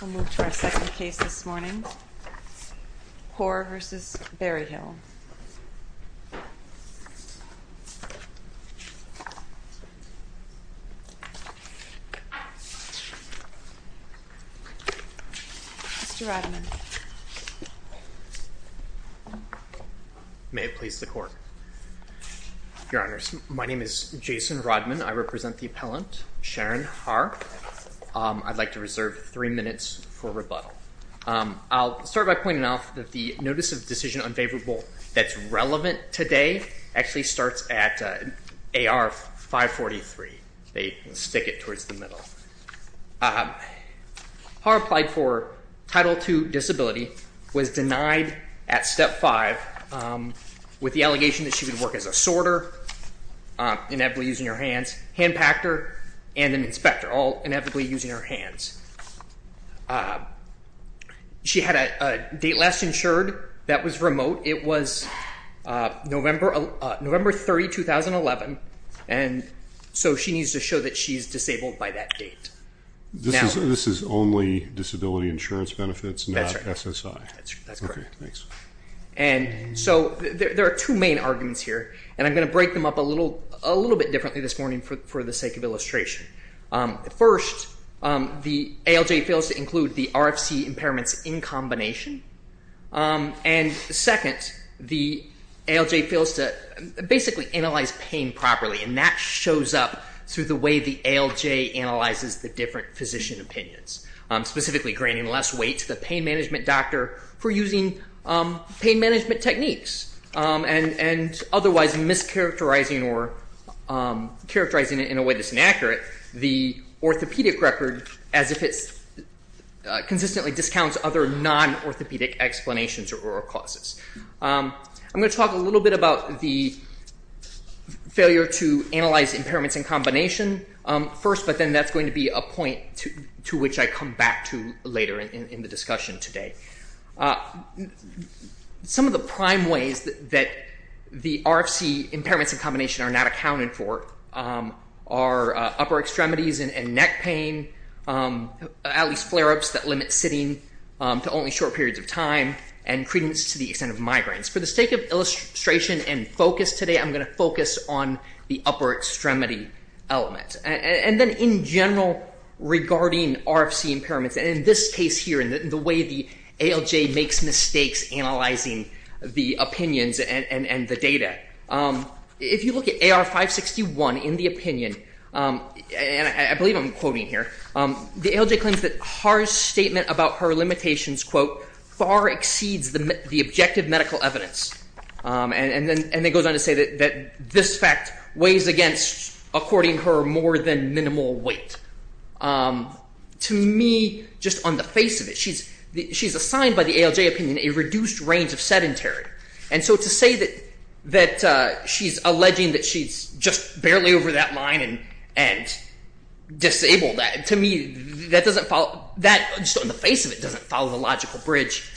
We'll move to our second case this morning, Horr v. Berryhill. Mr. Rodman. Your Honor, my name is Jason Rodman. I represent the appellant, Sharon Horr. I'd like to reserve three minutes for rebuttal. I'll start by pointing out that the notice of decision unfavorable that's relevant today actually starts at AR 543. They stick it towards the middle. Horr applied for Title II disability, was denied at Step 5 with the allegation that she would work as a sorter, inevitably using her hands, hand pactor, and an inspector, all inevitably using her hands. She had a date last insured that was remote. It was November 30, 2011, and so she needs to show that she's disabled by that date. This is only disability insurance benefits, not SSI? That's right. Okay, thanks. And so there are two main arguments here, and I'm going to break them up a little bit differently this morning for the sake of illustration. First, the ALJ fails to include the RFC impairments in combination. And second, the ALJ fails to basically analyze pain properly, and that shows up through the way the ALJ analyzes the different physician opinions, specifically granting less weight to the pain management doctor for using pain management techniques and otherwise mischaracterizing it in a way that's inaccurate the orthopedic record as if it consistently discounts other non-orthopedic explanations or causes. I'm going to talk a little bit about the failure to analyze impairments in combination first, but then that's going to be a point to which I come back to later in the discussion today. Some of the prime ways that the RFC impairments in combination are not accounted for are upper extremities and neck pain, at least flare-ups that limit sitting to only short periods of time, and credence to the extent of migraines. For the sake of illustration and focus today, I'm going to focus on the upper extremity element. And then in general regarding RFC impairments, and in this case here in the way the ALJ makes mistakes analyzing the opinions and the data, if you look at AR 561 in the opinion, and I believe I'm quoting here, the ALJ claims that Haar's statement about her limitations, quote, far exceeds the objective medical evidence. And then it goes on to say that this fact weighs against, according to her, more than minimal weight. To me, just on the face of it, she's assigned by the ALJ opinion a reduced range of sedentary. And so to say that she's alleging that she's just barely over that line and disabled, to me, that just on the face of it doesn't follow the logical bridge,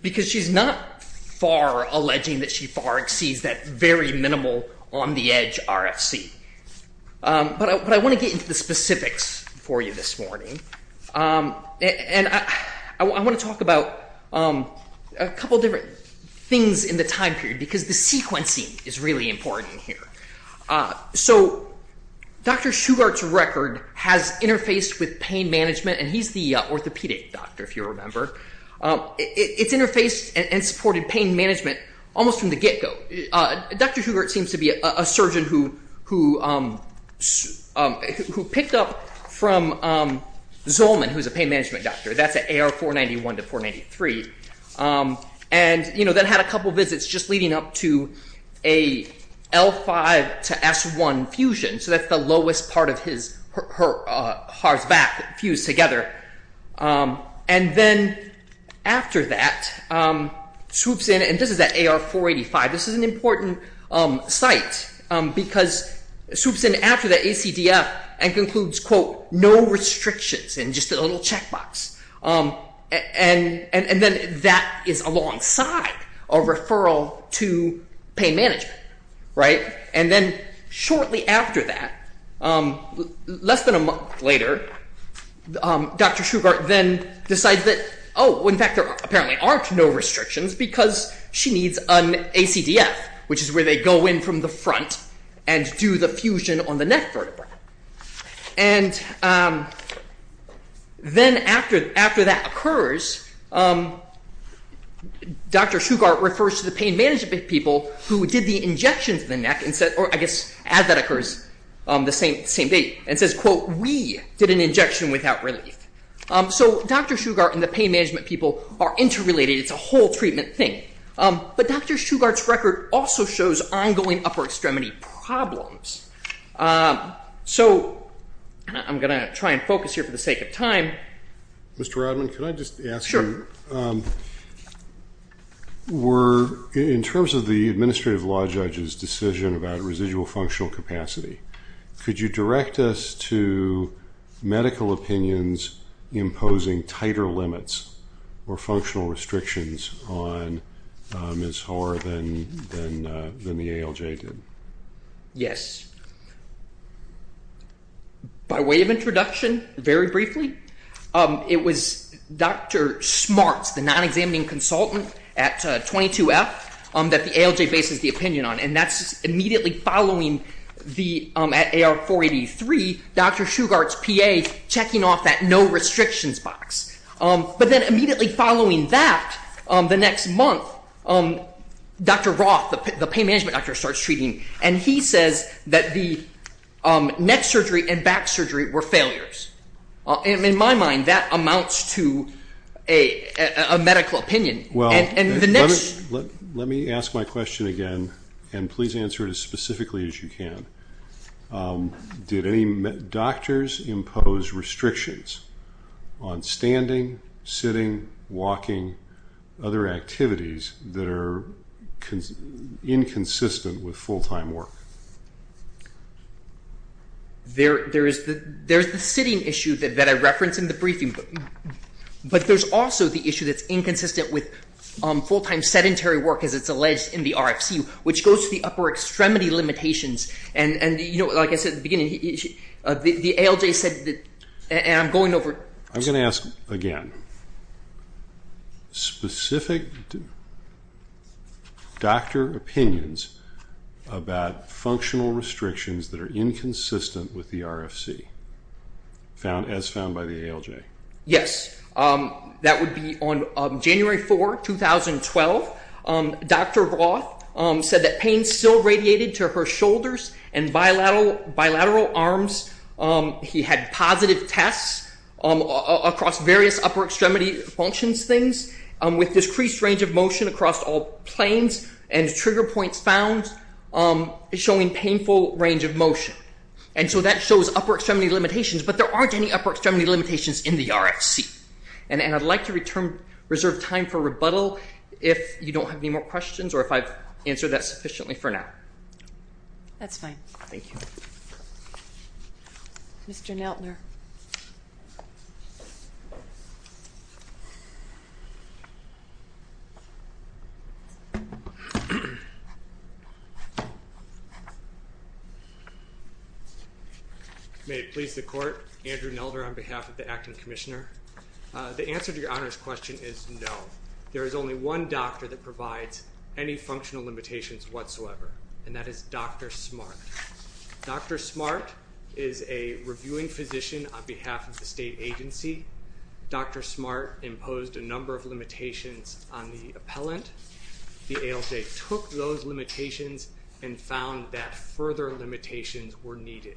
because she's not far alleging that she far exceeds that very minimal on the edge RFC. But I want to get into the specifics for you this morning. And I want to talk about a couple of different things in the time period, because the sequencing is really important here. So Dr. Shugart's record has interfaced with pain management, and he's the orthopedic doctor, if you remember. It's interfaced and supported pain management almost from the get-go. Dr. Shugart seems to be a surgeon who picked up from Zolman, who's a pain management doctor. That's at AR 491 to 493, and then had a couple visits just leading up to a L5 to S1 fusion. So that's the lowest part of his heart's back fused together. And then after that swoops in, and this is at AR 485. This is an important site, because swoops in after the ACDF and concludes, quote, no restrictions and just a little checkbox. And then that is alongside a referral to pain management, right? And then shortly after that, less than a month later, Dr. Shugart then decides that, oh, in fact, there apparently aren't no restrictions, because she needs an ACDF, which is where they go in from the front and do the fusion on the neck vertebra. And then after that occurs, Dr. Shugart refers to the pain management people who did the injection to the neck, or I guess as that occurs, the same day, and says, quote, we did an injection without relief. So Dr. Shugart and the pain management people are interrelated. It's a whole treatment thing. But Dr. Shugart's record also shows ongoing upper extremity problems. So I'm going to try and focus here for the sake of time. Mr. Rodman, could I just ask you, in terms of the administrative law judge's decision about residual functional capacity, could you direct us to medical opinions imposing tighter limits or functional restrictions on Ms. Hoare than the ALJ did? Yes. By way of introduction, very briefly, it was Dr. Smarts, the non-examining consultant at 22F, that the ALJ bases the opinion on. And that's immediately following the AR483, Dr. Shugart's PA checking off that no restrictions box. But then immediately following that, the next month, Dr. Roth, the pain management doctor, starts treating. And he says that the neck surgery and back surgery were failures. In my mind, that amounts to a medical opinion. Well, let me ask my question again, and please answer it as specifically as you can. Did any doctors impose restrictions on standing, sitting, walking, other activities that are inconsistent with full-time work? There is the sitting issue that I referenced in the briefing. But there's also the issue that's inconsistent with full-time sedentary work, as it's alleged in the RFC, which goes to the upper extremity limitations. And, you know, like I said at the beginning, the ALJ said that, and I'm going over it. I'm going to ask again. Specific doctor opinions about functional restrictions that are inconsistent with the RFC, as found by the ALJ. Yes. That would be on January 4, 2012. Dr. Roth said that pain still radiated to her shoulders and bilateral arms. He had positive tests across various upper extremity functions things, with decreased range of motion across all planes, and trigger points found showing painful range of motion. And so that shows upper extremity limitations, but there aren't any upper extremity limitations in the RFC. And I'd like to reserve time for rebuttal if you don't have any more questions or if I've answered that sufficiently for now. That's fine. Thank you. Mr. Neltner. May it please the Court, Andrew Neltner on behalf of the Acting Commissioner. The answer to your Honor's question is no. There is only one doctor that provides any functional limitations whatsoever, and that is Dr. Smart. Dr. Smart is a reviewing physician on behalf of the state agency. Dr. Smart imposed a number of limitations on the appellant. The ALJ took those limitations and found that further limitations were needed.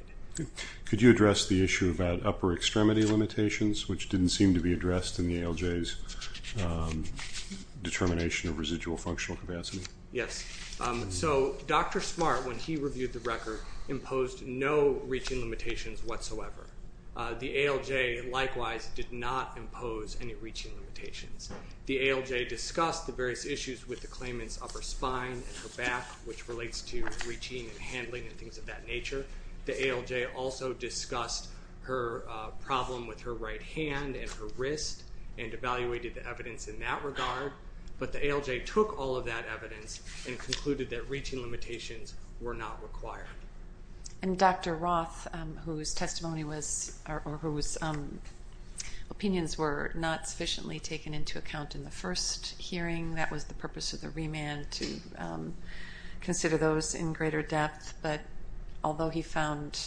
Could you address the issue about upper extremity limitations, which didn't seem to be addressed in the ALJ's determination of residual functional capacity? Yes. So Dr. Smart, when he reviewed the record, imposed no reaching limitations whatsoever. The ALJ likewise did not impose any reaching limitations. The ALJ discussed the various issues with the claimant's upper spine and her back, which relates to reaching and handling and things of that nature. The ALJ also discussed her problem with her right hand and her wrist and evaluated the evidence in that regard. But the ALJ took all of that evidence and concluded that reaching limitations were not required. And Dr. Roth, whose opinions were not sufficiently taken into account in the first hearing, that was the purpose of the remand, to consider those in greater depth. But although he found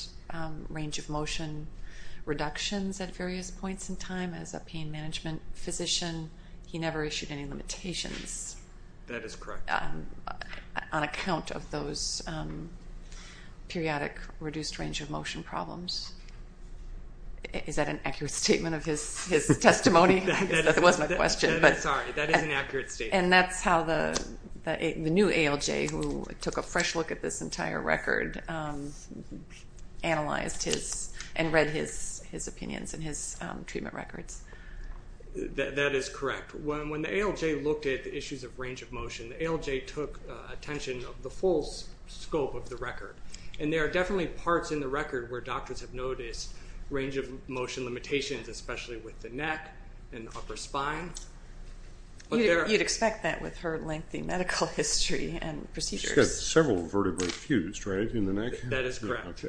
range of motion reductions at various points in time, as a pain management physician, he never issued any limitations. That is correct. On account of those periodic reduced range of motion problems. Is that an accurate statement of his testimony? That was my question. Sorry, that is an accurate statement. And that's how the new ALJ, who took a fresh look at this entire record, analyzed his and read his opinions and his treatment records. That is correct. When the ALJ looked at the issues of range of motion, the ALJ took attention of the full scope of the record. And there are definitely parts in the record where doctors have noticed range of motion limitations, especially with the neck and upper spine. You'd expect that with her lengthy medical history and procedures. She's got several vertebrae fused, right, in the neck? That is correct.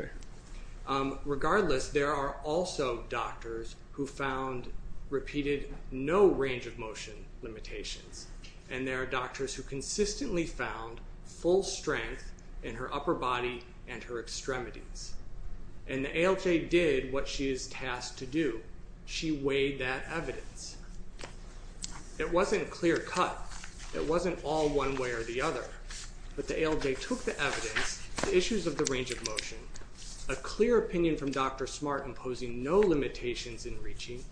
Regardless, there are also doctors who found repeated no range of motion limitations. And there are doctors who consistently found full strength in her upper body and her extremities. And the ALJ did what she is tasked to do. She weighed that evidence. It wasn't clear cut. It wasn't all one way or the other. But the ALJ took the evidence, the issues of the range of motion, a clear opinion from Dr. Smart in posing no limitations in reaching,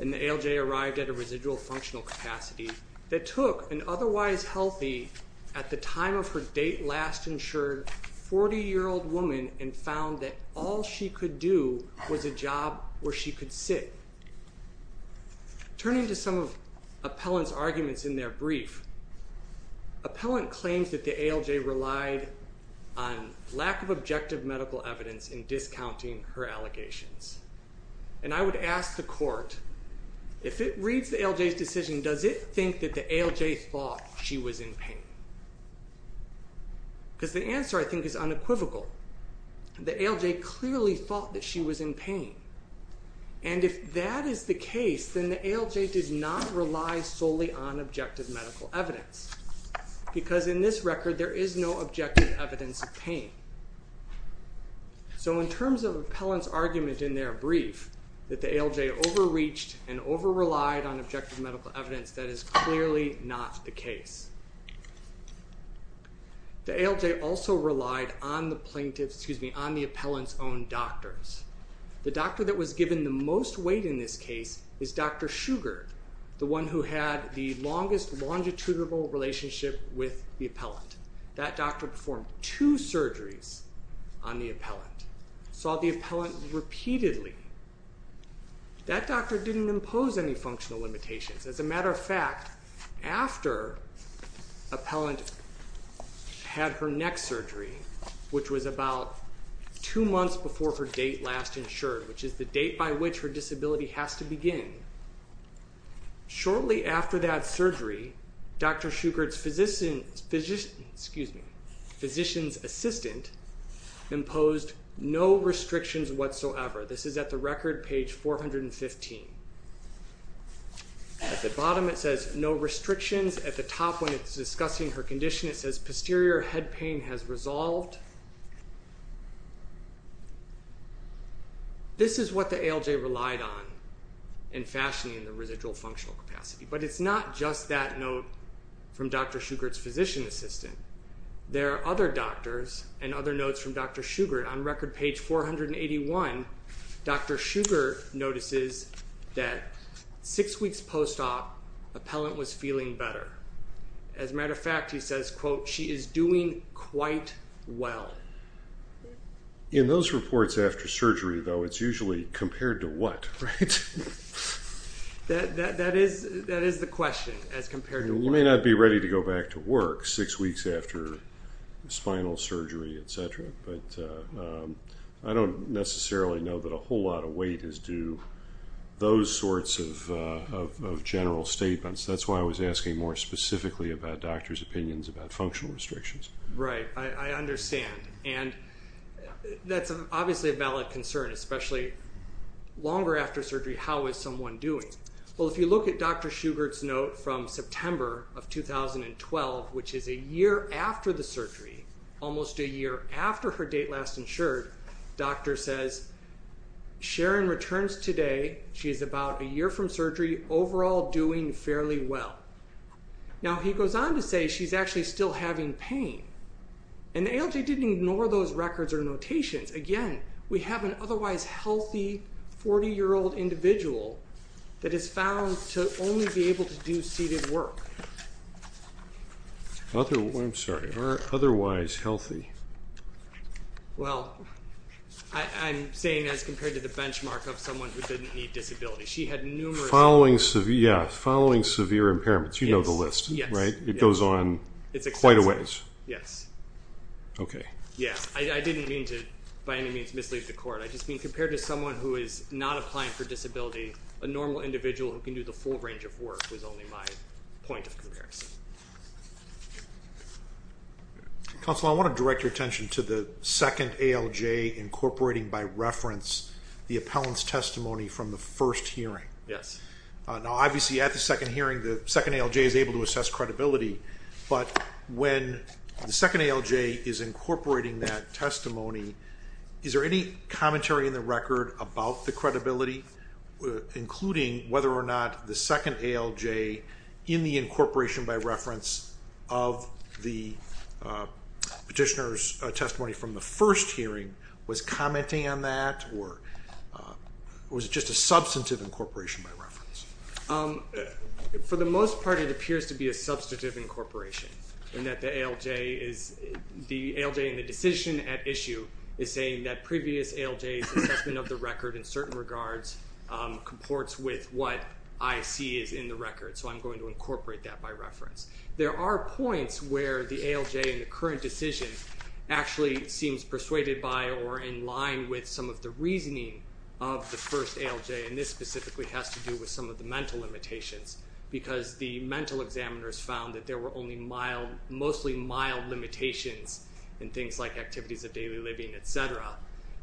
and the ALJ arrived at a residual functional capacity that took an otherwise healthy, at the time of her date last insured, 40-year-old woman and found that all she could do was a job where she could sit. Turning to some of Appellant's arguments in their brief, Appellant claims that the ALJ relied on lack of objective medical evidence in discounting her allegations. And I would ask the court, if it reads the ALJ's decision, does it think that the ALJ thought she was in pain? Because the answer, I think, is unequivocal. The ALJ clearly thought that she was in pain. And if that is the case, then the ALJ did not rely solely on objective medical evidence. Because in this record, there is no objective evidence of pain. So in terms of Appellant's argument in their brief, that the ALJ overreached and overrelied on objective medical evidence, that is clearly not the case. The ALJ also relied on the plaintiff's, excuse me, on the Appellant's own doctors. The doctor that was given the most weight in this case is Dr. Sugar, the one who had the longest longitudinal relationship with the Appellant. That doctor performed two surgeries on the Appellant, saw the Appellant repeatedly. That doctor didn't impose any functional limitations. As a matter of fact, after Appellant had her next surgery, which was about two months before her date last insured, which is the date by which her disability has to begin, shortly after that surgery, Dr. Sugar's physician's assistant imposed no restrictions whatsoever. This is at the record, page 415. At the bottom it says, no restrictions. At the top, when it's discussing her condition, it says, posterior head pain has resolved. This is what the ALJ relied on in fashioning the residual functional capacity. But it's not just that note from Dr. Sugar's physician's assistant. There are other doctors and other notes from Dr. Sugar. On record, page 481, Dr. Sugar notices that six weeks post-op, Appellant was feeling better. As a matter of fact, he says, quote, she is doing quite well. In those reports after surgery, though, it's usually compared to what, right? That is the question, as compared to what. You may not be ready to go back to work six weeks after spinal surgery, et cetera. But I don't necessarily know that a whole lot of weight is due to those sorts of general statements. That's why I was asking more specifically about doctors' opinions about functional restrictions. Right, I understand. And that's obviously a valid concern, especially longer after surgery, how is someone doing? Well, if you look at Dr. Sugar's note from September of 2012, which is a year after the surgery, almost a year after her date last insured, doctor says, Sharon returns today. She is about a year from surgery, overall doing fairly well. Now, he goes on to say she's actually still having pain. And the ALJ didn't ignore those records or notations. Again, we have an otherwise healthy 40-year-old individual that is found to only be able to do seated work. I'm sorry, otherwise healthy. Well, I'm saying as compared to the benchmark of someone who didn't need disability. She had numerous impairments. Yeah, following severe impairments, you know the list, right? It goes on quite a ways. Yes. Okay. Yeah, I didn't mean to, by any means, mislead the court. I just mean compared to someone who is not applying for disability, a normal individual who can do the full range of work was only my point of comparison. Counsel, I want to direct your attention to the second ALJ incorporating by reference the appellant's testimony from the first hearing. Yes. Now, obviously at the second hearing, the second ALJ is able to assess credibility. But when the second ALJ is incorporating that testimony, is there any commentary in the record about the credibility, including whether or not the second ALJ, in the incorporation by reference of the petitioner's testimony from the first hearing, was commenting on that or was it just a substantive incorporation by reference? For the most part, it appears to be a substantive incorporation, in that the ALJ in the decision at issue is saying that previous ALJ's assessment of the record in certain regards comports with what I see is in the record, so I'm going to incorporate that by reference. There are points where the ALJ in the current decision actually seems persuaded by or in line with some of the reasoning of the first ALJ, and this specifically has to do with some of the mental limitations, because the mental examiners found that there were only mild, mostly mild limitations in things like activities of daily living, etc.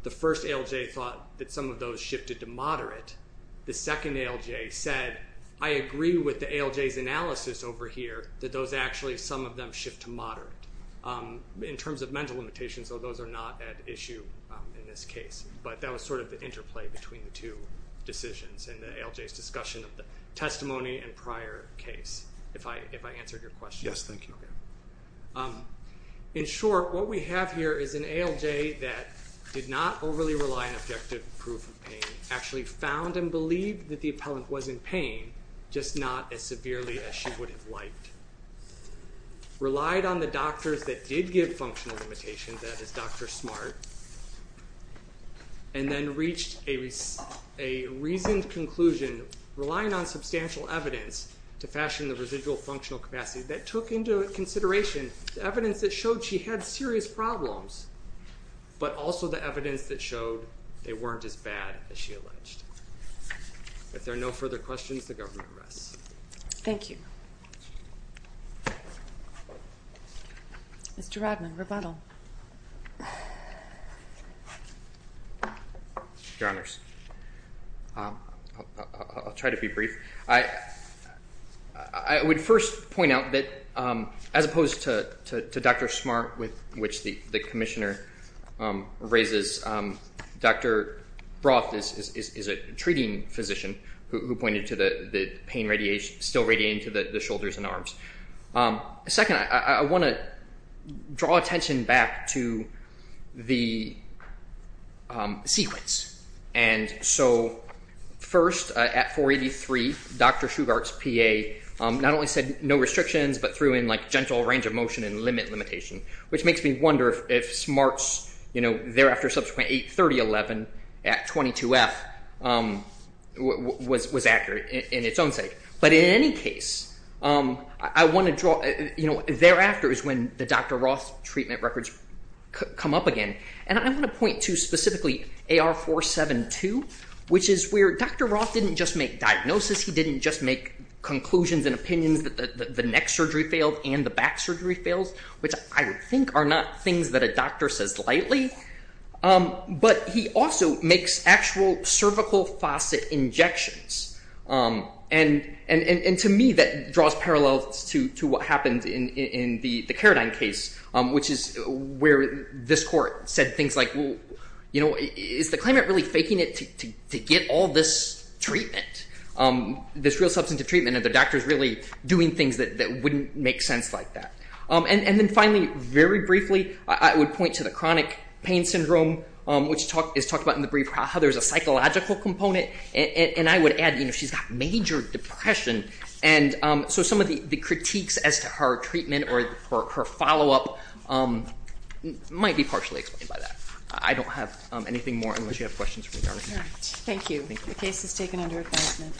The first ALJ thought that some of those shifted to moderate. The second ALJ said, I agree with the ALJ's analysis over here, that those actually, some of them shift to moderate. In terms of mental limitations, though, those are not at issue in this case, but that was sort of the interplay between the two decisions in the ALJ's discussion of the testimony and prior case. If I answered your question. Yes, thank you. In short, what we have here is an ALJ that did not overly rely on objective proof of pain, actually found and believed that the appellant was in pain, just not as severely as she would have liked. Relied on the doctors that did give functional limitations, that is Dr. Smart, and then reached a reasoned conclusion relying on substantial evidence to fashion the residual functional capacity that took into consideration the evidence that showed she had serious problems, but also the evidence that showed they weren't as bad as she alleged. If there are no further questions, the government rests. Thank you. Mr. Radman, rebuttal. Your Honors, I'll try to be brief. I would first point out that as opposed to Dr. Smart, with which the Commissioner raises, Dr. Broth is a treating physician who pointed to the pain still radiating to the shoulders and arms. Second, I want to draw attention back to the sequence. And so first at 483, Dr. Shugart's PA not only said no restrictions, but threw in like gentle range of motion and limit limitation, which makes me wonder if Smart's, you know, thereafter subsequent 83011 at 22F was accurate in its own sake. But in any case, I want to draw, you know, thereafter is when the Dr. Broth treatment records come up again. And I want to point to specifically AR472, which is where Dr. Broth didn't just make diagnosis. He didn't just make conclusions and opinions that the neck surgery failed and the back surgery failed, which I think are not things that a doctor says lightly. But he also makes actual cervical faucet injections. And to me, that draws parallels to what happened in the Karadine case, which is where this court said things like, well, you know, is the claimant really faking it to get all this treatment, this real substantive treatment, and the doctor is really doing things that wouldn't make sense like that. And then finally, very briefly, I would point to the chronic pain syndrome, which is talked about in the brief, how there's a psychological component. And I would add, you know, she's got major depression. And so some of the critiques as to her treatment or her follow up might be partially explained by that. I don't have anything more unless you have questions regarding that. All right. Thank you. The case is taken under advisement.